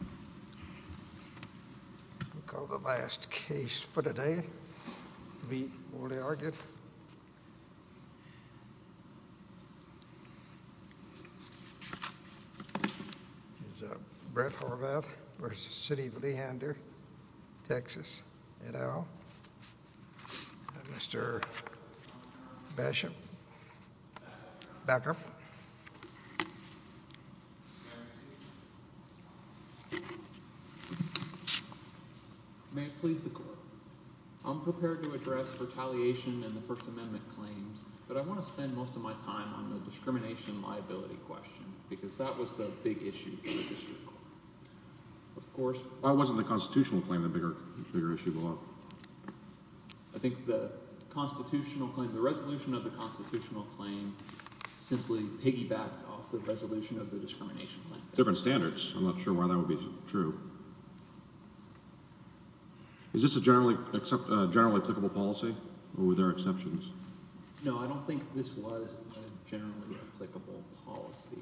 We'll call the last case for today, Leit Wolde-Argett. It's Brett Horvath versus Sidney Leander, Texas, et al. Mr. Bishop, back up. May it please the court, I'm prepared to address retaliation in the First Amendment claims, but I want to spend most of my time on the discrimination liability question, because that was the big issue for the district court. Of course... Why wasn't the constitutional claim the bigger issue of the law? I think the constitutional claim, the resolution of the constitutional claim, simply piggybacked off the resolution of the discrimination claim. Different standards, I'm not sure why that would be true. Is this a generally applicable policy, or were there exceptions? No, I don't think this was a generally applicable policy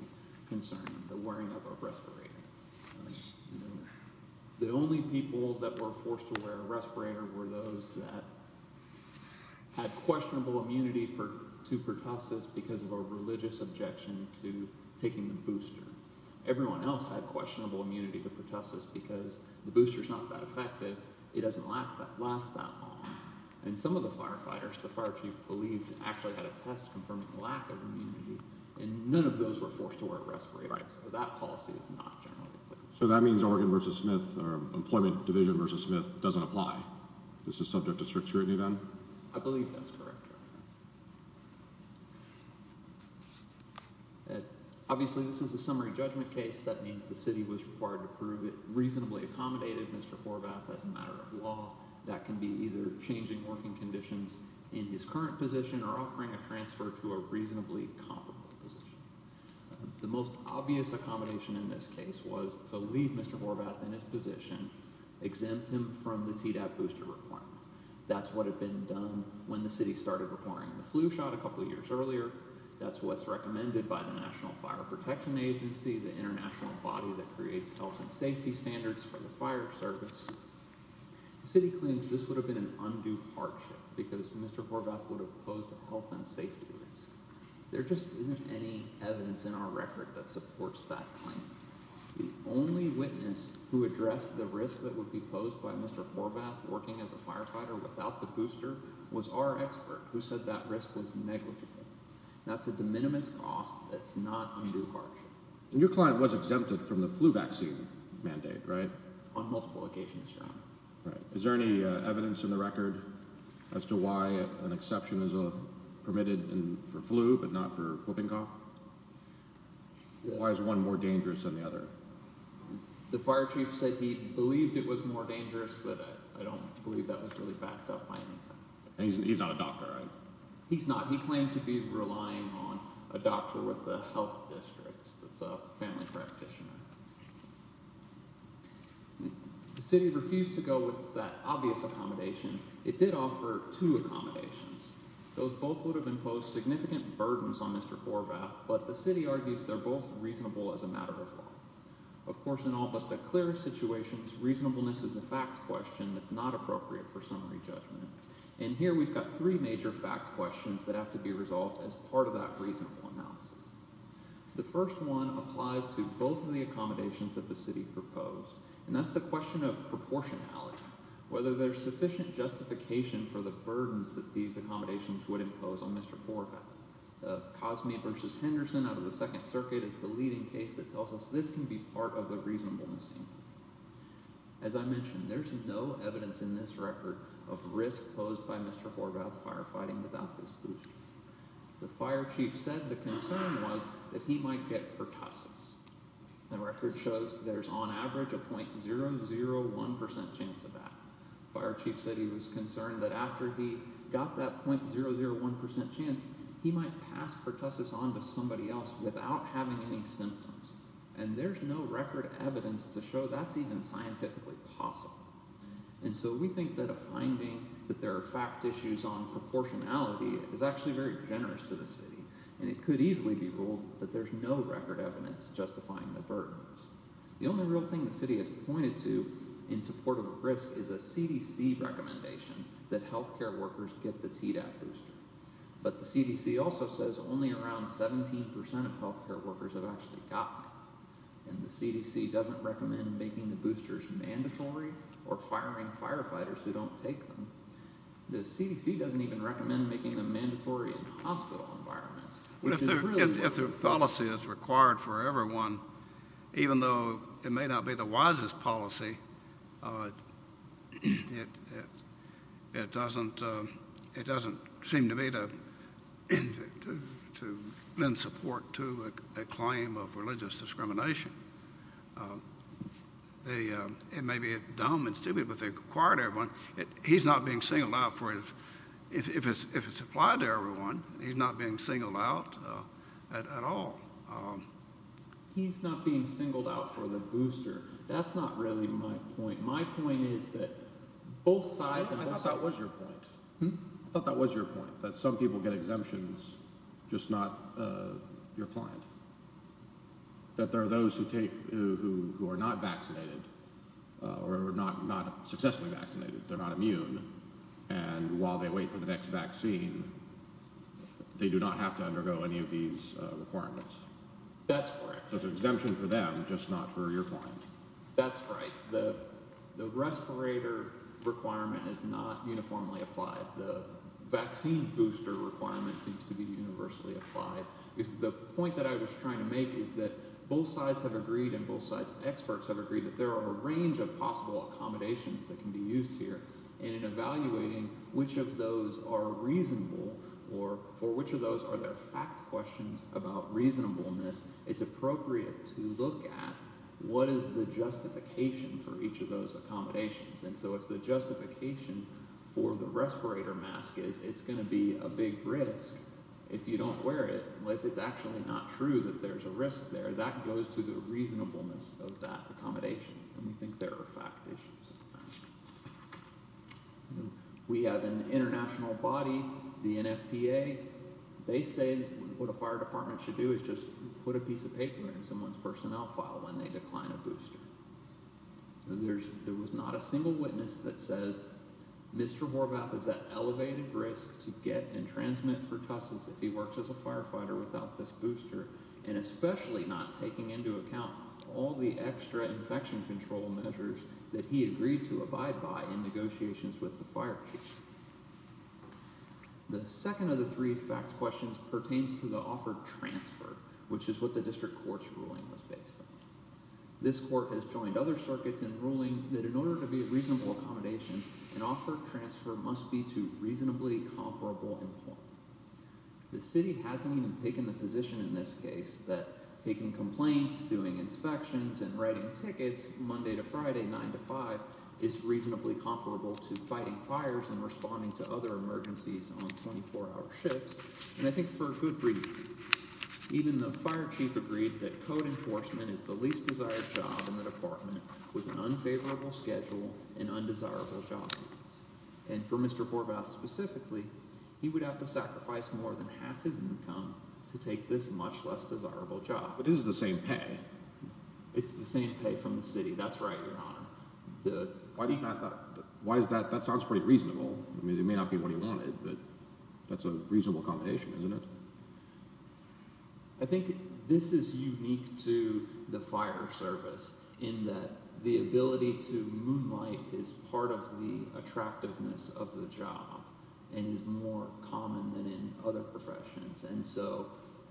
concern, the wearing of a respirator. The only people that were forced to wear a respirator were those that had questionable immunity to pertussis because of a religious objection to taking the booster. Everyone else had questionable immunity to pertussis because the booster's not that effective, it doesn't last that long. And some of the firefighters, the fire chief believed, actually had a test confirming the lack of immunity, and none of those were forced to wear a respirator. So that policy is not generally applicable. So that means Oregon v. Smith, or Employment Division v. Smith, doesn't apply. This is subject to strict scrutiny then? I believe that's correct. Obviously this is a summary judgment case. That means the city was required to prove it reasonably accommodated, Mr. Horvath, as a matter of law. That can be either changing working conditions in his current position or offering a transfer to a reasonably comparable position. The most obvious accommodation in this case was to leave Mr. Horvath in his position, exempt him from the TDAP booster requirement. That's what had been done when the city started requiring the flu shot a couple years earlier. That's what's recommended by the National Fire Protection Agency, the international body that creates health and safety standards for the fire service. The city claims this would have been an undue hardship because Mr. Horvath would have posed a health and safety risk. There just isn't any evidence in our record that supports that claim. The only witness who addressed the risk that would be posed by Mr. Horvath working as a firefighter without the booster was our expert who said that risk was negligible. That's a de minimis cost that's not undue hardship. Your client was exempted from the flu vaccine mandate, right? On multiple occasions, yeah. Is there any evidence in the record as to why an exception is permitted for flu but not for whooping cough? Why is one more dangerous than the other? The fire chief said he believed it was more dangerous, but I don't believe that was really backed up by anything. He's not a doctor, right? He's not. He claimed to be relying on a doctor with the health district that's a family practitioner. The city refused to go with that obvious accommodation. It did offer two accommodations. Those both would have imposed significant burdens on Mr. Horvath, but the city argues they're both reasonable as a matter of law. Of course, in all but the clearest situations, reasonableness is a fact question that's not appropriate for summary judgment. And here we've got three major fact questions that have to be resolved as part of that reasonable analysis. The first one applies to both of the accommodations that the city proposed, and that's the question of proportionality. Whether there's sufficient justification for the burdens that these accommodations would impose on Mr. Horvath. Cosme v. Henderson out of the Second Circuit is the leading case that tells us this can be part of the reasonableness. As I mentioned, there's no evidence in this record of risk posed by Mr. Horvath firefighting without this booster. The fire chief said the concern was that he might get pertussis. The record shows there's on average a .001% chance of that. Fire chief said he was concerned that after he got that .001% chance, he might pass pertussis on to somebody else without having any symptoms. And there's no record evidence to show that's even scientifically possible. And so we think that a finding that there are fact issues on proportionality is actually very generous to the city. And it could easily be ruled that there's no record evidence justifying the burdens. The only real thing the city has pointed to in support of risk is a CDC recommendation that health care workers get the TDAP booster. But the CDC also says only around 17% of health care workers have actually gotten it. And the CDC doesn't recommend making the boosters mandatory or firing firefighters who don't take them. The CDC doesn't even recommend making them mandatory in hospital environments. If the policy is required for everyone, even though it may not be the wisest policy, it doesn't seem to me to lend support to a claim of religious discrimination. It may be dumb and stupid, but they require it for everyone. He's not being singled out for it. If it's applied to everyone, he's not being singled out at all. He's not being singled out for the booster. That's not really my point. My point is that both sides. I thought that was your point. I thought that was your point, that some people get exemptions, just not your client. That there are those who take who are not vaccinated or not, not successfully vaccinated. They're not immune. And while they wait for the next vaccine, they do not have to undergo any of these requirements. That's correct. There's an exemption for them, just not for your client. That's right. The respirator requirement is not uniformly applied. The vaccine booster requirement seems to be universally applied. The point that I was trying to make is that both sides have agreed and both sides of experts have agreed that there are a range of possible accommodations that can be used here. And in evaluating which of those are reasonable or for which of those are there fact questions about reasonableness, it's appropriate to look at what is the justification for each of those accommodations. And so if the justification for the respirator mask is it's going to be a big risk. If you don't wear it, if it's actually not true that there's a risk there, that goes to the reasonableness of that accommodation. And we think there are fact issues. We have an international body, the NFPA. They say what a fire department should do is just put a piece of paper in someone's personnel file when they decline a booster. There was not a single witness that says Mr. Horvath is at elevated risk to get and transmit pertussis if he works as a firefighter without this booster. And especially not taking into account all the extra infection control measures that he agreed to abide by in negotiations with the fire chief. The second of the three fact questions pertains to the offered transfer, which is what the district court's ruling was based on. This court has joined other circuits in ruling that in order to be a reasonable accommodation, an offered transfer must be to reasonably comparable employment. The city hasn't even taken the position in this case that taking complaints, doing inspections, and writing tickets Monday to Friday, 9 to 5, is reasonably comparable to fighting fires and responding to other emergencies on 24-hour shifts. And I think for good reason. Even the fire chief agreed that code enforcement is the least desired job in the department with an unfavorable schedule and undesirable job. And for Mr. Horvath specifically, he would have to sacrifice more than half his income to take this much less desirable job. But this is the same pay. It's the same pay from the city. That's right, Your Honor. Why is that? That sounds pretty reasonable. I mean, it may not be what he wanted, but that's a reasonable accommodation, isn't it? I think this is unique to the fire service in that the ability to moonlight is part of the attractiveness of the job and is more common than in other professions. And so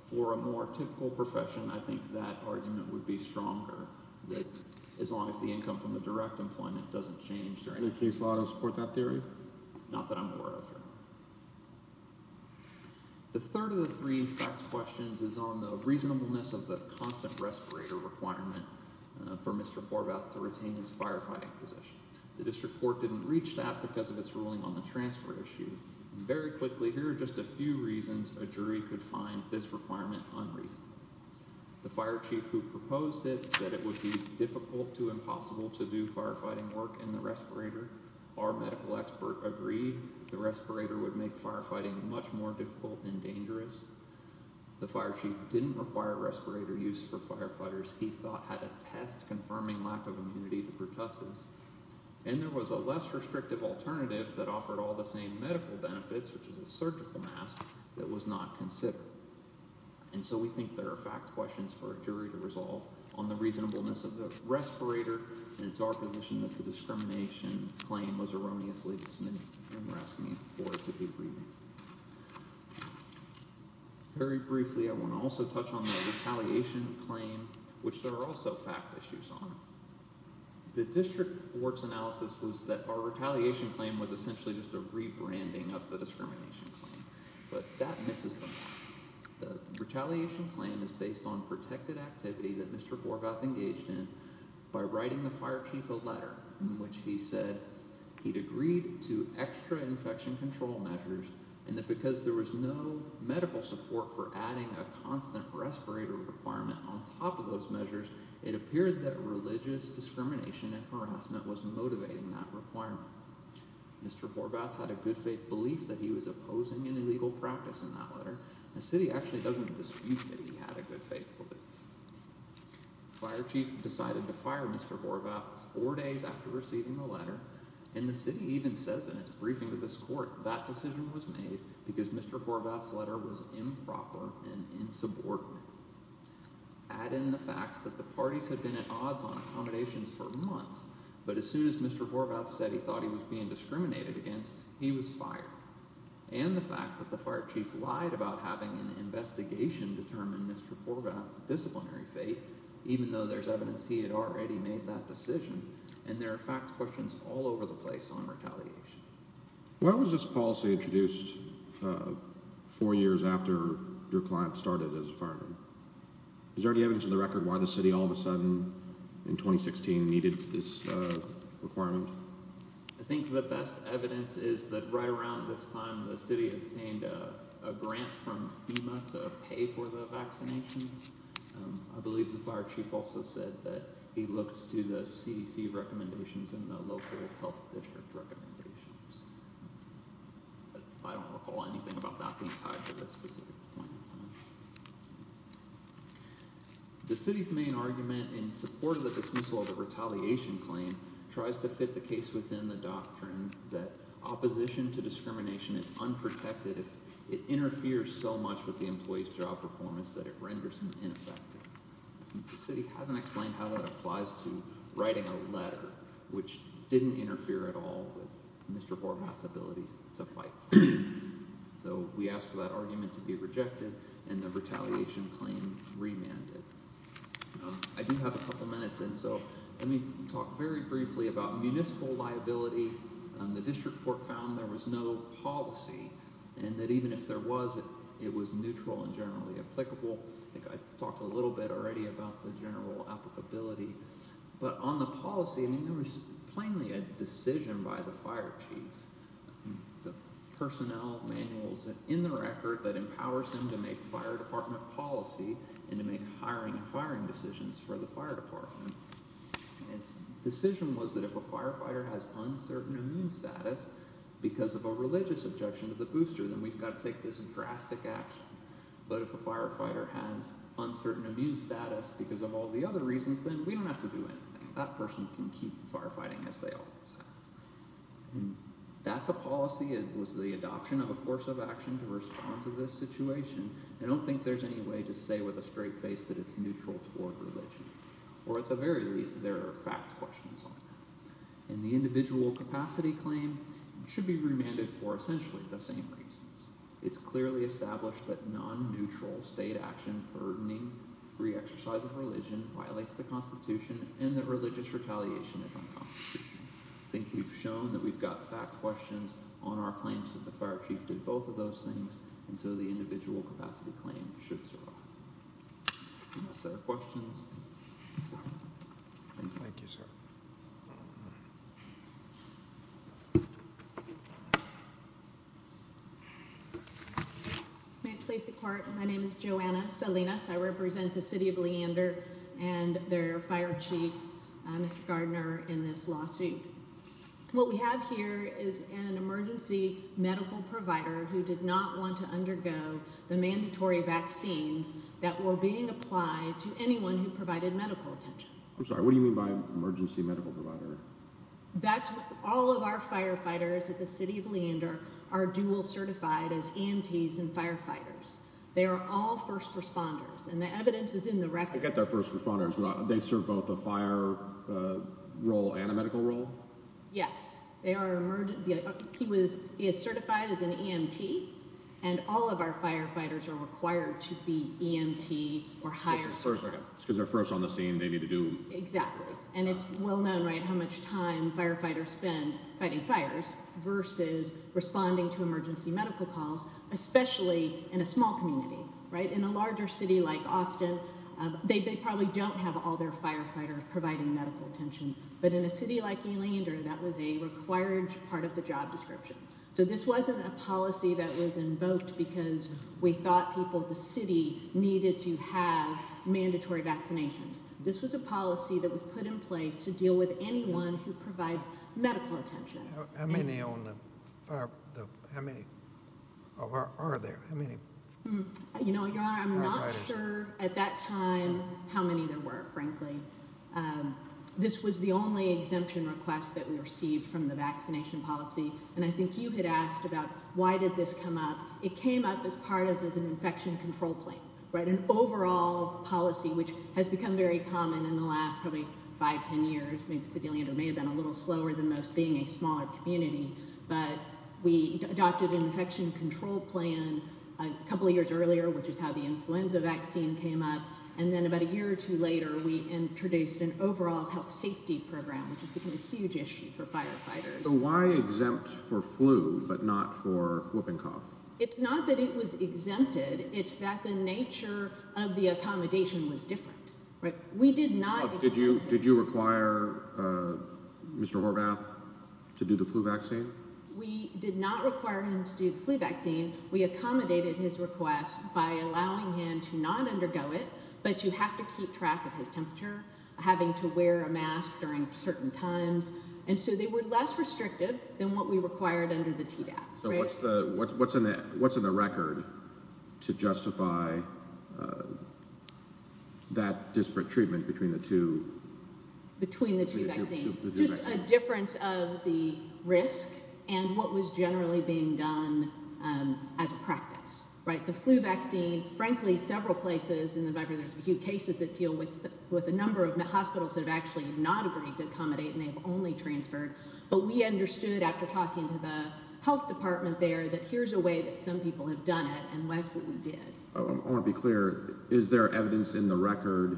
for a more typical profession, I think that argument would be stronger. That as long as the income from the direct employment doesn't change, Your Honor. The case law doesn't support that theory? Not that I'm aware of, Your Honor. The third of the three facts questions is on the reasonableness of the constant respirator requirement for Mr. Horvath to retain his firefighting position. The district court didn't reach that because of its ruling on the transfer issue. Very quickly, here are just a few reasons a jury could find this requirement unreasonable. The fire chief who proposed it said it would be difficult to impossible to do firefighting work in the respirator. Our medical expert agreed the respirator would make firefighting much more difficult and dangerous. The fire chief didn't require respirator use for firefighters. He thought had a test confirming lack of immunity to pertussis. And there was a less restrictive alternative that offered all the same medical benefits, which is a surgical mask, that was not considered. And so we think there are fact questions for a jury to resolve on the reasonableness of the respirator. And it's our position that the discrimination claim was erroneously dismissed and we're asking for it to be reviewed. Very briefly, I want to also touch on the retaliation claim, which there are also fact issues on. The district court's analysis was that our retaliation claim was essentially just a rebranding of the discrimination claim. But that misses the mark. The retaliation claim is based on protected activity that Mr. Borgoth engaged in by writing the fire chief a letter in which he said he'd agreed to extra infection control measures and that because there was no medical support for adding a constant respirator requirement on top of those measures, it appeared that religious discrimination and harassment was motivating that requirement. Mr. Borgoth had a good faith belief that he was opposing an illegal practice in that letter. The city actually doesn't dispute that he had a good faith belief. The fire chief decided to fire Mr. Borgoth four days after receiving the letter. And the city even says in its briefing to this court that decision was made because Mr. Borgoth's letter was improper and insubordinate. Add in the facts that the parties had been at odds on accommodations for months, but as soon as Mr. Borgoth said he thought he was being discriminated against, he was fired. And the fact that the fire chief lied about having an investigation determine Mr. Borgoth's disciplinary faith, even though there's evidence he had already made that decision, and there are fact questions all over the place on retaliation. Why was this policy introduced four years after your client started as a fireman? Is there any evidence on the record why the city all of a sudden in 2016 needed this requirement? I think the best evidence is that right around this time the city obtained a grant from FEMA to pay for the vaccinations. I believe the fire chief also said that he looked to the CDC recommendations and the local health district recommendations. I don't recall anything about that being tied to this specific point in time. The city's main argument in support of the dismissal of the retaliation claim tries to fit the case within the doctrine that opposition to discrimination is unprotected if it interferes so much with the employee's job performance that it renders him ineffective. The city hasn't explained how that applies to writing a letter, which didn't interfere at all with Mr. Borgoth's ability to fight. So we asked for that argument to be rejected, and the retaliation claim remanded. I do have a couple minutes, and so let me talk very briefly about municipal liability. The district court found there was no policy and that even if there was, it was neutral and generally applicable. I think I talked a little bit already about the general applicability. But on the policy, there was plainly a decision by the fire chief. The personnel manual is in the record that empowers him to make fire department policy and to make hiring and firing decisions for the fire department. His decision was that if a firefighter has uncertain immune status because of a religious objection to the booster, then we've got to take this drastic action. But if a firefighter has uncertain immune status because of all the other reasons, then we don't have to do anything. That person can keep firefighting as they always have. That's a policy. It was the adoption of a course of action to respond to this situation. I don't think there's any way to say with a straight face that it's neutral toward religion. Or at the very least, there are fact questions on that. And the individual capacity claim should be remanded for essentially the same reasons. It's clearly established that non-neutral state action burdening free exercise of religion violates the Constitution and that religious retaliation is unconstitutional. I think we've shown that we've got fact questions on our claims that the fire chief did both of those things, and so the individual capacity claim should survive. Any other questions? Thank you, sir. May it please the court, my name is Joanna Salinas. I represent the city of Leander and their fire chief, Mr. Gardner, in this lawsuit. What we have here is an emergency medical provider who did not want to undergo the mandatory vaccines that were being applied to anyone who provided medical attention. I'm sorry, what do you mean by emergency medical provider? All of our firefighters at the city of Leander are dual certified as EMTs and firefighters. They are all first responders, and the evidence is in the record. I forget their first responders, but they serve both a fire role and a medical role? Yes, he is certified as an EMT, and all of our firefighters are required to be EMT or higher. Because they're first on the scene, they need to do it. Exactly, and it's well known how much time firefighters spend fighting fires versus responding to emergency medical calls, especially in a small community. In a larger city like Austin, they probably don't have all their firefighters providing medical attention. But in a city like Leander, that was a required part of the job description. So this wasn't a policy that was invoked because we thought the city needed to have mandatory vaccinations. This was a policy that was put in place to deal with anyone who provides medical attention. How many are there? Your Honor, I'm not sure at that time how many there were, frankly. This was the only exemption request that we received from the vaccination policy, and I think you had asked about why did this come up. It came up as part of an infection control plan, an overall policy, which has become very common in the last probably five, ten years. Maybe the city of Leander may have been a little slower than most, being a smaller community. But we adopted an infection control plan a couple of years earlier, which is how the influenza vaccine came up. And then about a year or two later, we introduced an overall health safety program, which has become a huge issue for firefighters. So why exempt for flu but not for whooping cough? It's not that it was exempted. It's that the nature of the accommodation was different. Did you require Mr. Horvath to do the flu vaccine? We did not require him to do the flu vaccine. We accommodated his request by allowing him to not undergo it, but you have to keep track of his temperature, having to wear a mask during certain times. And so they were less restrictive than what we required under the TDAP. So what's in the record to justify that disparate treatment between the two? Between the two vaccines. Just a difference of the risk and what was generally being done as a practice. The flu vaccine, frankly, several places in the country, there's a few cases that deal with a number of hospitals that have actually not agreed to accommodate and they've only transferred. But we understood after talking to the health department there that here's a way that some people have done it. And that's what we did. I want to be clear. Is there evidence in the record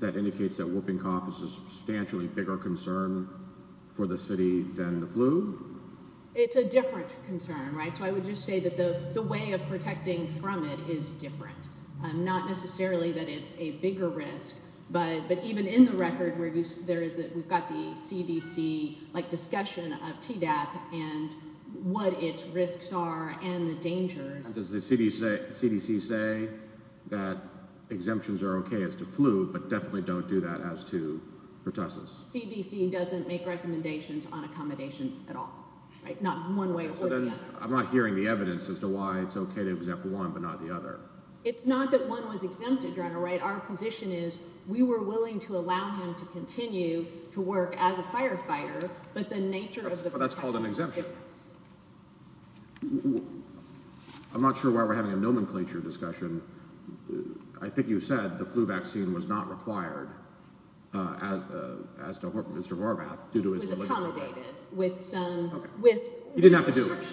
that indicates that whooping cough is a substantially bigger concern for the city than the flu? It's a different concern. Right. So I would just say that the way of protecting from it is different. Not necessarily that it's a bigger risk. But even in the record, we've got the CDC discussion of TDAP and what its risks are and the dangers. Does the CDC say that exemptions are OK as to flu, but definitely don't do that as to pertussis? CDC doesn't make recommendations on accommodations at all. Not one way or the other. I'm not hearing the evidence as to why it's OK to exempt one but not the other. It's not that one was exempted. Right. Our position is we were willing to allow him to continue to work as a firefighter. But the nature of that's called an exemption. I'm not sure why we're having a nomenclature discussion. I think you said the flu vaccine was not required as Mr. Vargas. It was accommodated with some. He didn't have to do it.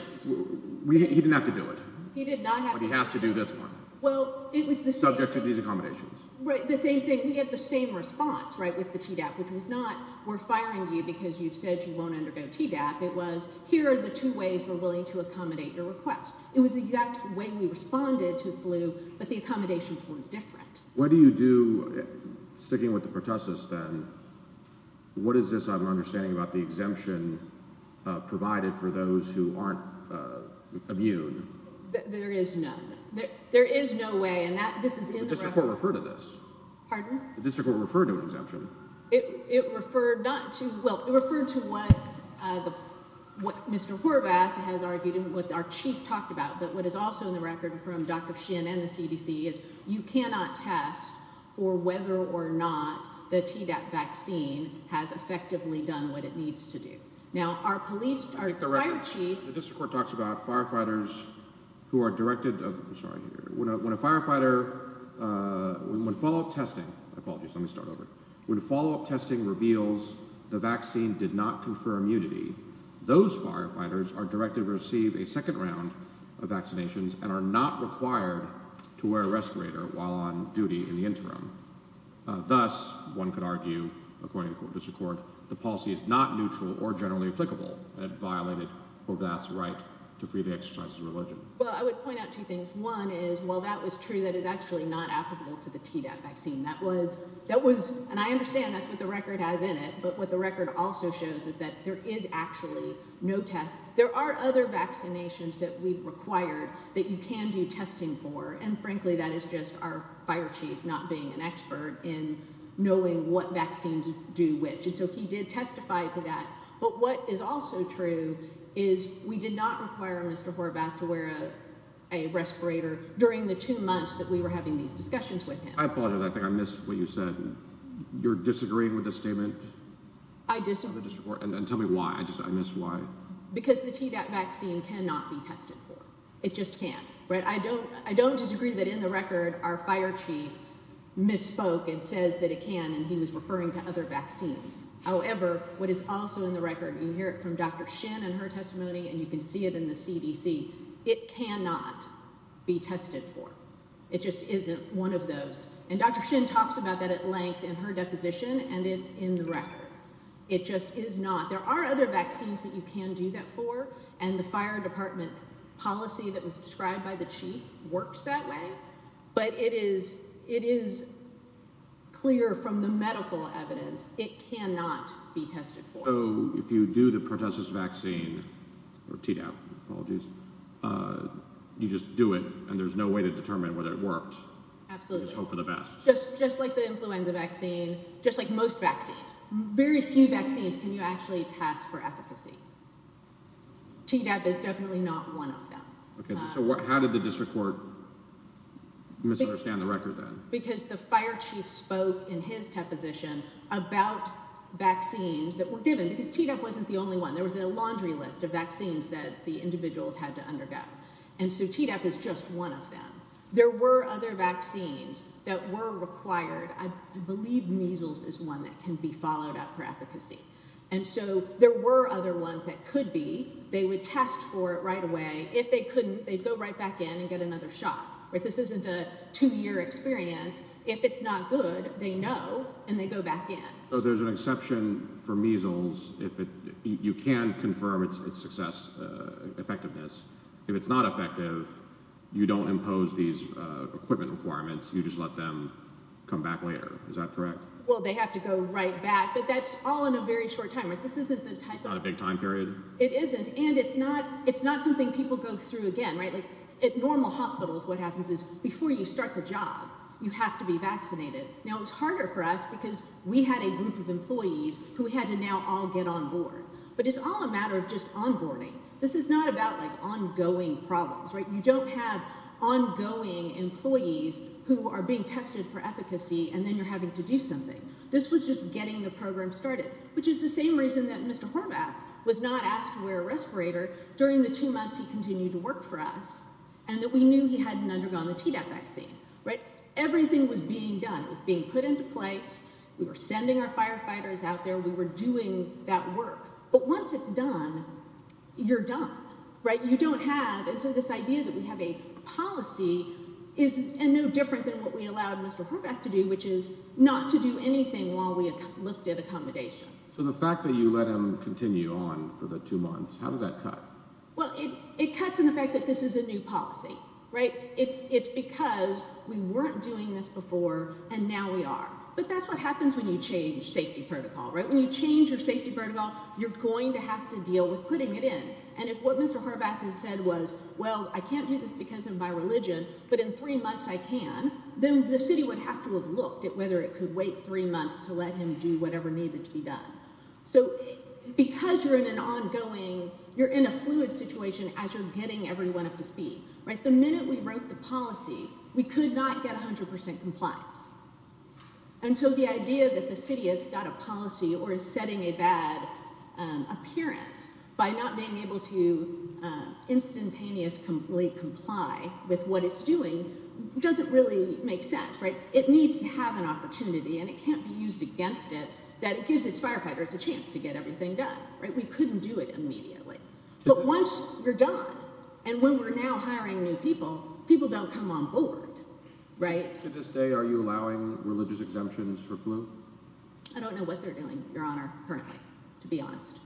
He didn't have to do it. He did not have to do this one. Well, it was the subject of these accommodations. Right. The same thing. We had the same response, right, with the TDAP, which was not we're firing you because you said you won't undergo TDAP. It was here are the two ways we're willing to accommodate your request. It was the exact way we responded to the flu. But the accommodations were different. What do you do sticking with the process then? What is this? I'm understanding about the exemption provided for those who aren't immune. There is no there is no way and that this is referred to this. This will refer to exemption. It referred to what Mr. Horvath has argued and what our chief talked about. But what is also in the record from Dr. Shin and the CDC is you cannot test for whether or not the vaccine has effectively done what it needs to do. Now, our police chief talks about firefighters who are directed. When a firefighter would follow up testing. Apologies. Let me start over with a follow up testing reveals the vaccine did not confirm unity. Those firefighters are directed to receive a second round of vaccinations and are not required to wear a respirator while on duty in the interim. Thus, one could argue, according to this report, the policy is not neutral or generally applicable. It violated Horvath's right to free the exercise of religion. Well, I would point out two things. One is, while that was true, that is actually not applicable to the vaccine. That was that was and I understand that's what the record has in it. But what the record also shows is that there is actually no test. There are other vaccinations that we've required that you can do testing for. And frankly, that is just our fire chief not being an expert in knowing what vaccines do which. And so he did testify to that. But what is also true is we did not require Mr. Horvath to wear a respirator during the two months that we were having these discussions with him. I apologize. I think I missed what you said. You're disagreeing with the statement. I disagree. And tell me why. I just I miss why. Because the vaccine cannot be tested for. It just can't. I don't I don't disagree that in the record, our fire chief misspoke and says that it can. And he was referring to other vaccines. However, what is also in the record, you hear it from Dr. Shin and her testimony and you can see it in the CDC. It cannot be tested for. It just isn't one of those. And Dr. Shin talks about that at length in her deposition. And it's in the record. It just is not. There are other vaccines that you can do that for. And the fire department policy that was described by the chief works that way. But it is it is clear from the medical evidence. It cannot be tested for. So if you do the protesters vaccine or TDAP, apologies, you just do it. And there's no way to determine whether it worked. Absolutely. Just like the influenza vaccine, just like most vaccines, very few vaccines. Can you actually pass for efficacy? T-DAP is definitely not one of them. So how did the district court misunderstand the record then? Because the fire chief spoke in his deposition about vaccines that were given because T-DAP wasn't the only one. There was a laundry list of vaccines that the individuals had to undergo. And so T-DAP is just one of them. There were other vaccines that were required. I believe measles is one that can be followed up for efficacy. And so there were other ones that could be. They would test for it right away. If they couldn't, they'd go right back in and get another shot. But this isn't a two year experience. If it's not good, they know and they go back in. So there's an exception for measles if you can confirm its success effectiveness. If it's not effective, you don't impose these equipment requirements. You just let them come back later. Is that correct? Well, they have to go right back. But that's all in a very short time. This isn't a big time period. It isn't. And it's not it's not something people go through again. Right. At normal hospitals, what happens is before you start the job, you have to be vaccinated. Now, it's harder for us because we had a group of employees who had to now all get on board. But it's all a matter of just onboarding. This is not about like ongoing problems. You don't have ongoing employees who are being tested for efficacy and then you're having to do something. This was just getting the program started, which is the same reason that Mr. Horvath was not asked to wear a respirator during the two months he continued to work for us. And that we knew he hadn't undergone the vaccine. Right. Everything was being done. It was being put into place. We were sending our firefighters out there. We were doing that work. But once it's done, you're done. Right. You don't have this idea that we have a policy is no different than what we allowed Mr. Horvath to do, which is not to do anything while we looked at accommodation. So the fact that you let him continue on for the two months, how does that cut? Well, it cuts in the fact that this is a new policy. Right. It's it's because we weren't doing this before and now we are. But that's what happens when you change safety protocol. Right. When you change your safety protocol, you're going to have to deal with putting it in. And if what Mr. Horvath has said was, well, I can't do this because of my religion. But in three months I can. Then the city would have to have looked at whether it could wait three months to let him do whatever needed to be done. So because you're in an ongoing you're in a fluid situation as you're getting everyone up to speed. Right. The minute we wrote the policy, we could not get 100 percent compliance. And so the idea that the city has got a policy or is setting a bad appearance by not being able to instantaneously comply with what it's doing doesn't really make sense. Right. It needs to have an opportunity and it can't be used against it. That gives its firefighters a chance to get everything done. Right. We couldn't do it immediately. But once you're done and when we're now hiring new people, people don't come on board. Right. To this day, are you allowing religious exemptions for flu? I don't know what they're doing, Your Honor. Currently, to be honest,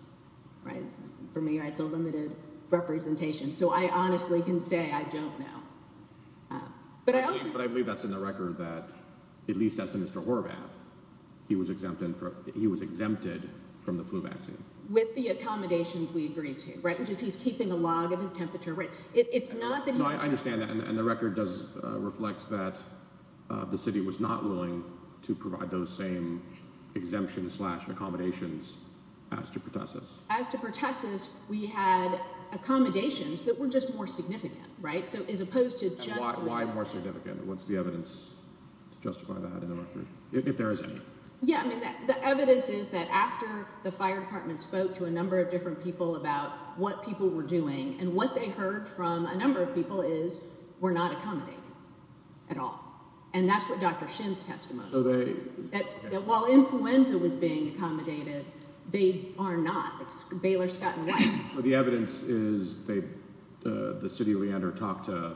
for me, it's a limited representation. So I honestly can say I don't know. But I believe that's in the record that at least as Mr. Horvath, he was exempted. He was exempted from the flu vaccine with the accommodations we agreed to. Right. Which is he's keeping a log of his temperature. Right. It's not that I understand. And the record does reflect that the city was not willing to provide those same exemptions slash accommodations. As to Pertussis. As to Pertussis, we had accommodations that were just more significant. Right. So as opposed to just. Why more significant? What's the evidence to justify that in the record? If there is any. Yeah. I mean, the evidence is that after the fire department spoke to a number of different people about what people were doing and what they heard from a number of people is we're not accommodating at all. And that's what Dr. Shins testimony. So while influenza was being accommodated, they are not. Baylor, Scott and White. The evidence is the city of Leander talked to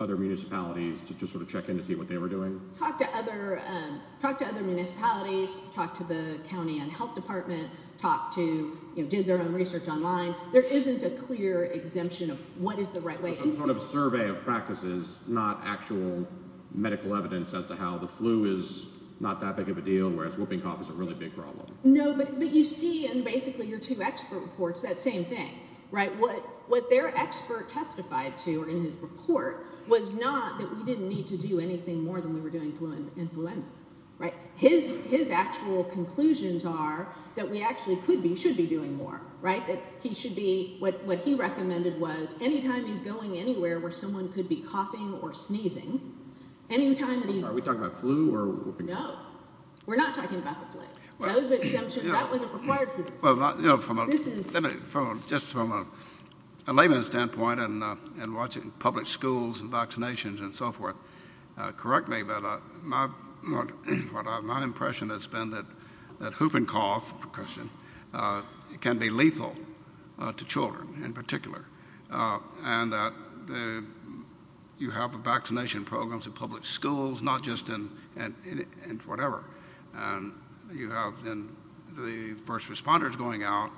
other municipalities to just sort of check in to see what they were doing. Talk to other talk to other municipalities. Talk to the county and health department. Talk to you did their own research online. There isn't a clear exemption of what is the right way. Sort of survey of practices, not actual medical evidence as to how the flu is not that big of a deal, whereas whooping cough is a really big problem. No, but you see in basically your two expert reports that same thing. Right. What what their expert testified to in his report was not that we didn't need to do anything more than we were doing flu and influenza. Right. His his actual conclusions are that we actually could be should be doing more. Right. He should be what he recommended was any time he's going anywhere where someone could be coughing or sneezing any time. Are we talking about flu or. No, we're not talking about the flu. Well, that was the exemption that wasn't required for this. Well, you know, from just from a layman standpoint and and watching public schools and vaccinations and so forth. Correct me, but my my impression has been that that whooping cough can be lethal to children in particular. And you have a vaccination programs in public schools, not just in and whatever. And you have the first responders going out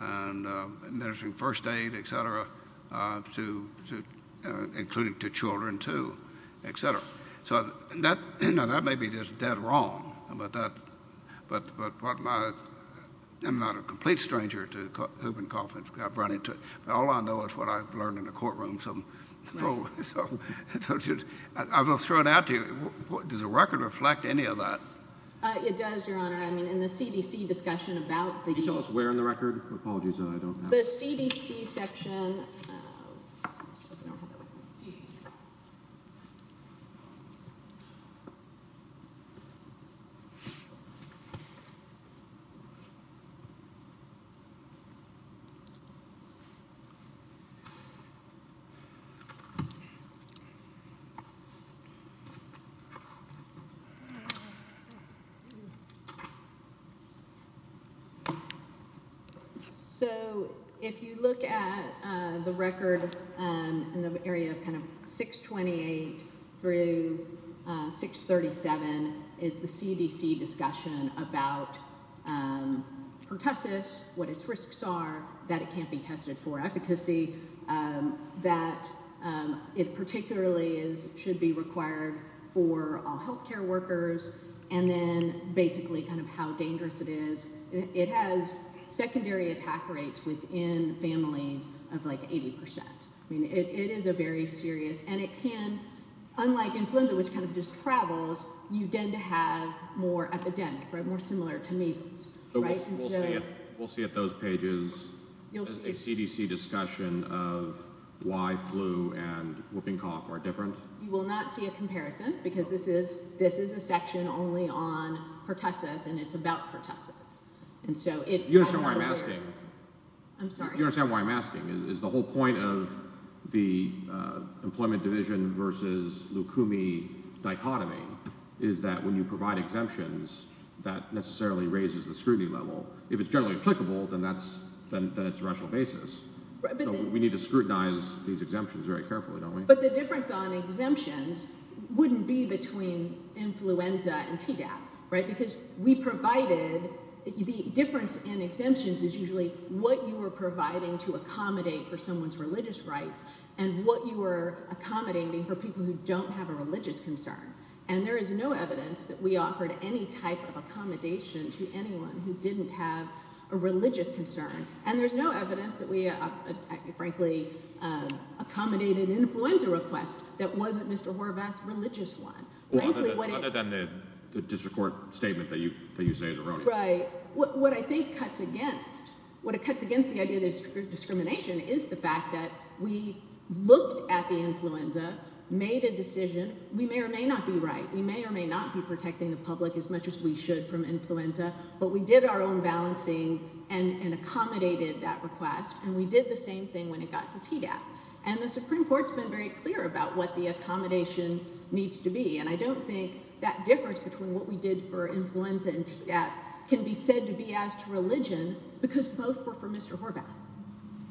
and administering first aid, et cetera, to including two children, too, et cetera. So that that may be just dead wrong. But that but but I am not a complete stranger to whooping cough. I've run into it. All I know is what I've learned in the courtroom. So I will throw it out to you. Does the record reflect any of that? It does, Your Honor. I mean, in the CDC discussion about the. We're on the record. Apologies. I don't know the CDC section. So if you look at the record in the area of kind of six, 28 through six, 37 is the CDC discussion about pertussis, what its risks are, that it can't be tested for efficacy, that it particularly is should be required for health care workers. And then basically kind of how dangerous it is. It has secondary attack rates within families of like 80 percent. I mean, it is a very serious and it can, unlike influenza, which kind of just travels. You tend to have more epidemic, more similar to measles. We'll see if those pages you'll see a CDC discussion of why flu and whooping cough are different. You will not see a comparison because this is this is a section only on pertussis and it's about pertussis. And so you understand why I'm asking. I'm sorry. You understand why I'm asking is the whole point of the employment division versus Lukumi dichotomy is that when you provide exemptions, that necessarily raises the scrutiny level. If it's generally applicable, then that's then it's a rational basis. We need to scrutinize these exemptions very carefully. But the difference on exemptions wouldn't be between influenza and TDAP. Right. Because we provided the difference in exemptions is usually what you were providing to accommodate for someone's religious rights and what you were accommodating for people who don't have a religious concern. And there is no evidence that we offered any type of accommodation to anyone who didn't have a religious concern. And there's no evidence that we frankly accommodated an influenza request that wasn't Mr. Horvath's religious one. Other than the district court statement that you that you say is erroneous. Right. What I think cuts against what it cuts against the idea that discrimination is the fact that we looked at the influenza, made a decision. We may or may not be right. We may or may not be protecting the public as much as we should from influenza. But we did our own balancing and accommodated that request. And we did the same thing when it got to TDAP. And the Supreme Court's been very clear about what the accommodation needs to be. And I don't think that difference between what we did for influenza and TDAP can be said to be as to religion because both were for Mr. Horvath.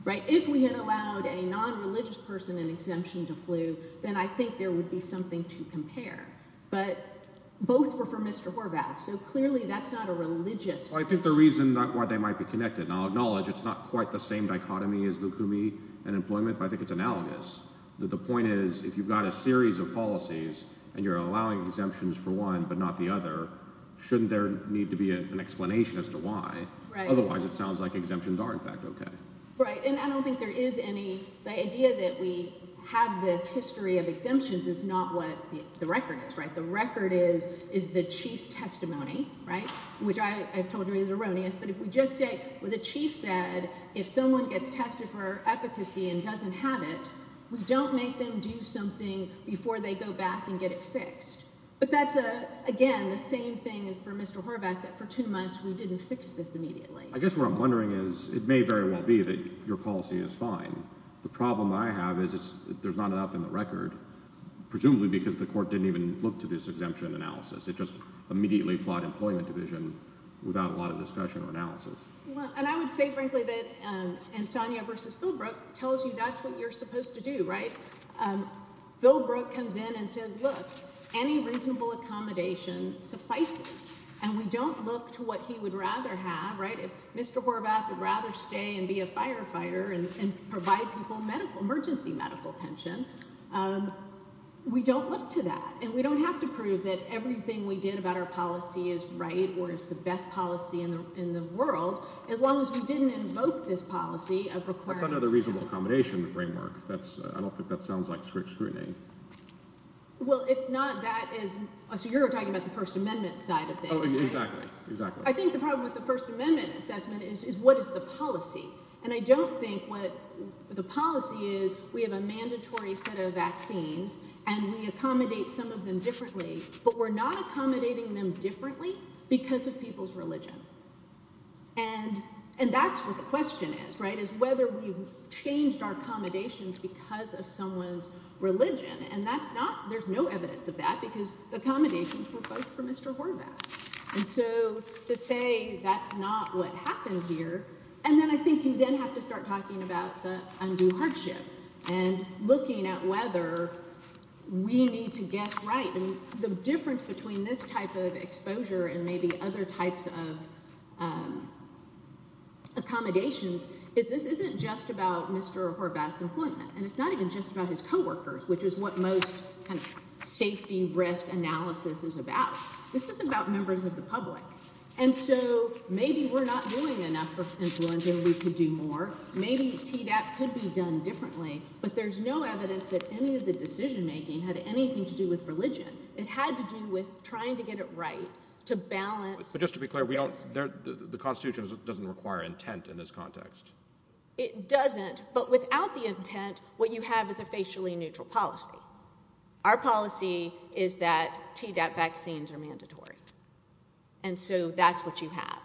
Right. If we had allowed a non-religious person an exemption to flu, then I think there would be something to compare. But both were for Mr. Horvath. So clearly that's not a religious thing. I think the reason why they might be connected, and I'll acknowledge it's not quite the same dichotomy as Lukumi and employment, but I think it's analogous. The point is if you've got a series of policies and you're allowing exemptions for one but not the other, shouldn't there need to be an explanation as to why? Right. Otherwise it sounds like exemptions are in fact okay. Right. And I don't think there is any – the idea that we have this history of exemptions is not what the record is. The record is the chief's testimony, which I've told you is erroneous. But if we just say what the chief said, if someone gets tested for efficacy and doesn't have it, we don't make them do something before they go back and get it fixed. But that's, again, the same thing as for Mr. Horvath, that for two months we didn't fix this immediately. I guess what I'm wondering is it may very well be that your policy is fine. The problem I have is there's not enough in the record, presumably because the court didn't even look to this exemption analysis. It just immediately fought employment division without a lot of discussion or analysis. And I would say frankly that – and Sonia versus Philbrook tells you that's what you're supposed to do, right? Philbrook comes in and says, look, any reasonable accommodation suffices, and we don't look to what he would rather have, right? If Mr. Horvath would rather stay and be a firefighter and provide people medical – emergency medical attention, we don't look to that. And we don't have to prove that everything we did about our policy is right or is the best policy in the world, as long as we didn't invoke this policy of requiring – I don't think that sounds like strict scrutiny. Well, it's not. That is – so you're talking about the First Amendment side of things, right? Exactly. Exactly. I think the problem with the First Amendment assessment is what is the policy? And I don't think what the policy is we have a mandatory set of vaccines and we accommodate some of them differently, but we're not accommodating them differently because of people's religion. And that's what the question is, right, is whether we've changed our accommodations because of someone's religion. And that's not – there's no evidence of that because the accommodations were both for Mr. Horvath. And so to say that's not what happened here – and then I think you then have to start talking about the undue hardship and looking at whether we need to guess right. And the difference between this type of exposure and maybe other types of accommodations is this isn't just about Mr. Horvath's employment, and it's not even just about his coworkers, which is what most kind of safety risk analysis is about. This is about members of the public. And so maybe we're not doing enough for influenza and we could do more. Maybe Tdap could be done differently, but there's no evidence that any of the decision-making had anything to do with religion. It had to do with trying to get it right, to balance – But just to be clear, the Constitution doesn't require intent in this context. It doesn't, but without the intent, what you have is a facially neutral policy. Our policy is that Tdap vaccines are mandatory. And so that's what you have.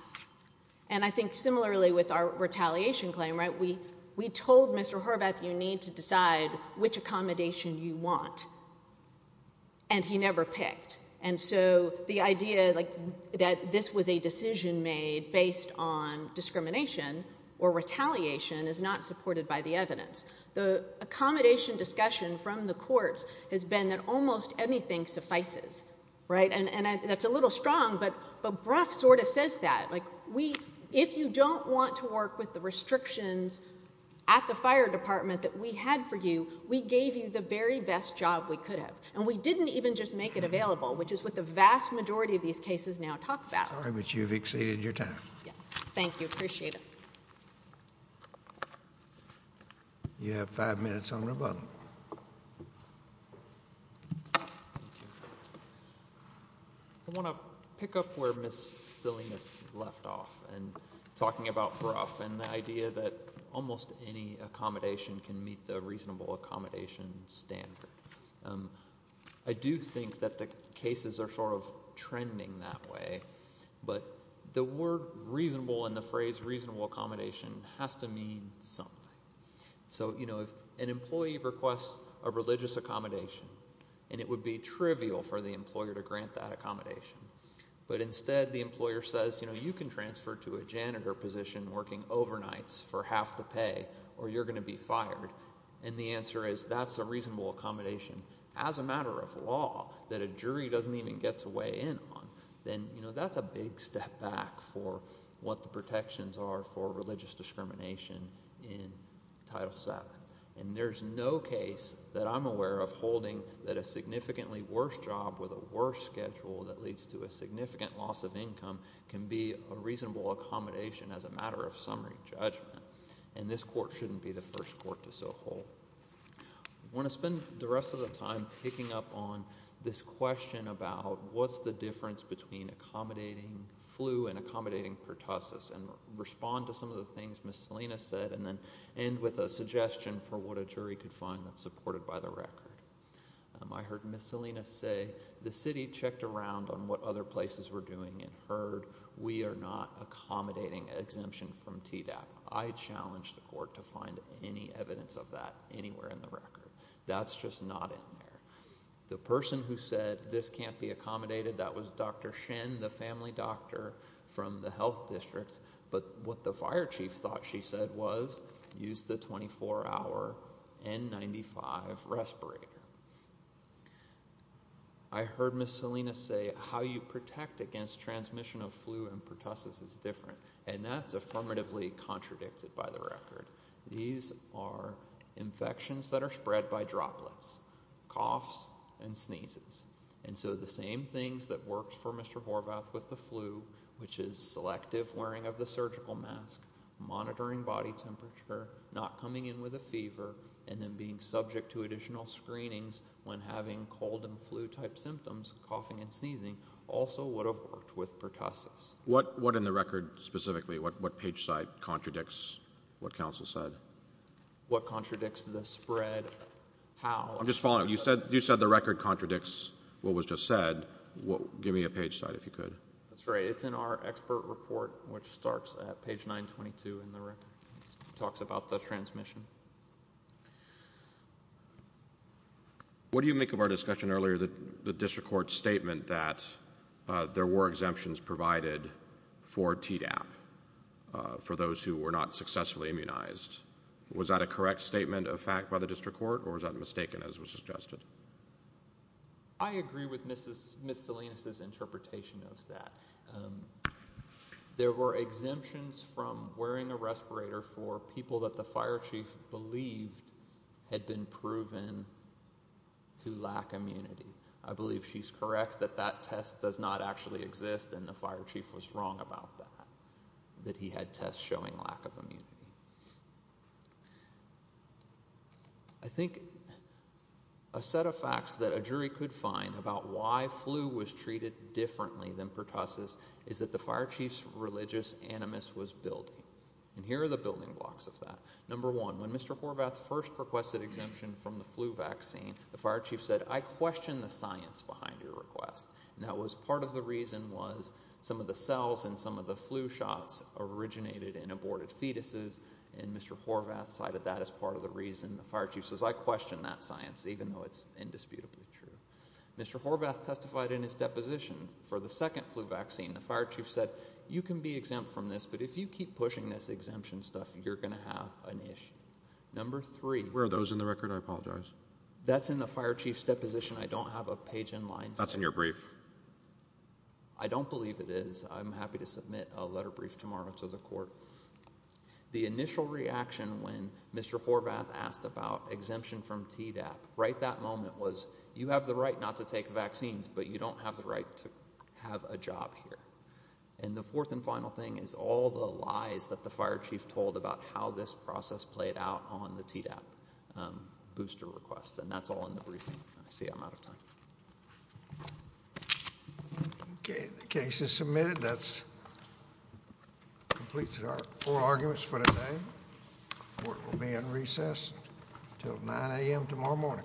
And I think similarly with our retaliation claim, we told Mr. Horvath you need to decide which accommodation you want, and he never picked. And so the idea that this was a decision made based on discrimination or retaliation is not supported by the evidence. The accommodation discussion from the courts has been that almost anything suffices. And that's a little strong, but Brough sort of says that. If you don't want to work with the restrictions at the fire department that we had for you, we gave you the very best job we could have. And we didn't even just make it available, which is what the vast majority of these cases now talk about. Sorry, but you've exceeded your time. Yes. Thank you. Appreciate it. You have five minutes on rebuttal. I want to pick up where Ms. Salinas left off in talking about Brough and the idea that almost any accommodation can meet the reasonable accommodation standard. I do think that the cases are sort of trending that way, but the word reasonable and the phrase reasonable accommodation has to mean something. So if an employee requests a religious accommodation, and it would be trivial for the employer to grant that accommodation, but instead the employer says you can transfer to a janitor position working overnights for half the pay or you're going to be fired, and the answer is that's a reasonable accommodation as a matter of law that a jury doesn't even get to weigh in on, then that's a big step back for what the protections are for religious discrimination in Title VII. And there's no case that I'm aware of holding that a significantly worse job with a worse schedule that leads to a significant loss of income can be a reasonable accommodation as a matter of summary judgment, and this court shouldn't be the first court to so hold. I want to spend the rest of the time picking up on this question about what's the difference between accommodating flu and accommodating pertussis and respond to some of the things Ms. Salinas said and then end with a suggestion for what a jury could find that's supported by the record. I heard Ms. Salinas say the city checked around on what other places were doing and heard we are not accommodating exemption from TDAP. I challenge the court to find any evidence of that anywhere in the record. That's just not in there. The person who said this can't be accommodated, that was Dr. Shen, the family doctor from the health district, but what the fire chief thought she said was use the 24-hour N95 respirator. I heard Ms. Salinas say how you protect against transmission of flu and pertussis is different, and that's affirmatively contradicted by the record. These are infections that are spread by droplets, coughs and sneezes, and so the same things that worked for Mr. Horvath with the flu, which is selective wearing of the surgical mask, monitoring body temperature, not coming in with a fever, and then being subject to additional screenings when having cold and flu-type symptoms, coughing and sneezing, also would have worked with pertussis. What in the record specifically, what page site contradicts what counsel said? What contradicts the spread? How? I'm just following up. You said the record contradicts what was just said. Give me a page site if you could. That's right. It's in our expert report, which starts at page 922 in the record. It talks about the transmission. What do you make of our discussion earlier, the district court's statement that there were exemptions provided for Tdap, for those who were not successfully immunized? Was that a correct statement of fact by the district court, or was that mistaken, as was suggested? I agree with Ms. Salinas's interpretation of that. There were exemptions from wearing a respirator for people that the fire chief believed had been proven to lack immunity. I believe she's correct that that test does not actually exist, and the fire chief was wrong about that, that he had tests showing lack of immunity. I think a set of facts that a jury could find about why flu was treated differently than pertussis is that the fire chief's religious animus was building, and here are the building blocks of that. Number one, when Mr. Horvath first requested exemption from the flu vaccine, the fire chief said, I question the science behind your request. Part of the reason was some of the cells in some of the flu shots originated in aborted fetuses, and Mr. Horvath cited that as part of the reason. The fire chief says, I question that science, even though it's indisputably true. Mr. Horvath testified in his deposition for the second flu vaccine. The fire chief said, you can be exempt from this, but if you keep pushing this exemption stuff, you're going to have an issue. Where are those in the record? I apologize. That's in the fire chief's deposition. I don't have a page in line. That's in your brief. I don't believe it is. I'm happy to submit a letter brief tomorrow to the court. The initial reaction when Mr. Horvath asked about exemption from Tdap right that moment was you have the right not to take vaccines, but you don't have the right to have a job here. And the fourth and final thing is all the lies that the fire chief told about how this process played out on the Tdap booster request. And that's all in the briefing. I see I'm out of time. The case is submitted. That completes our oral arguments for today. Court will be in recess until 9 a.m. tomorrow morning.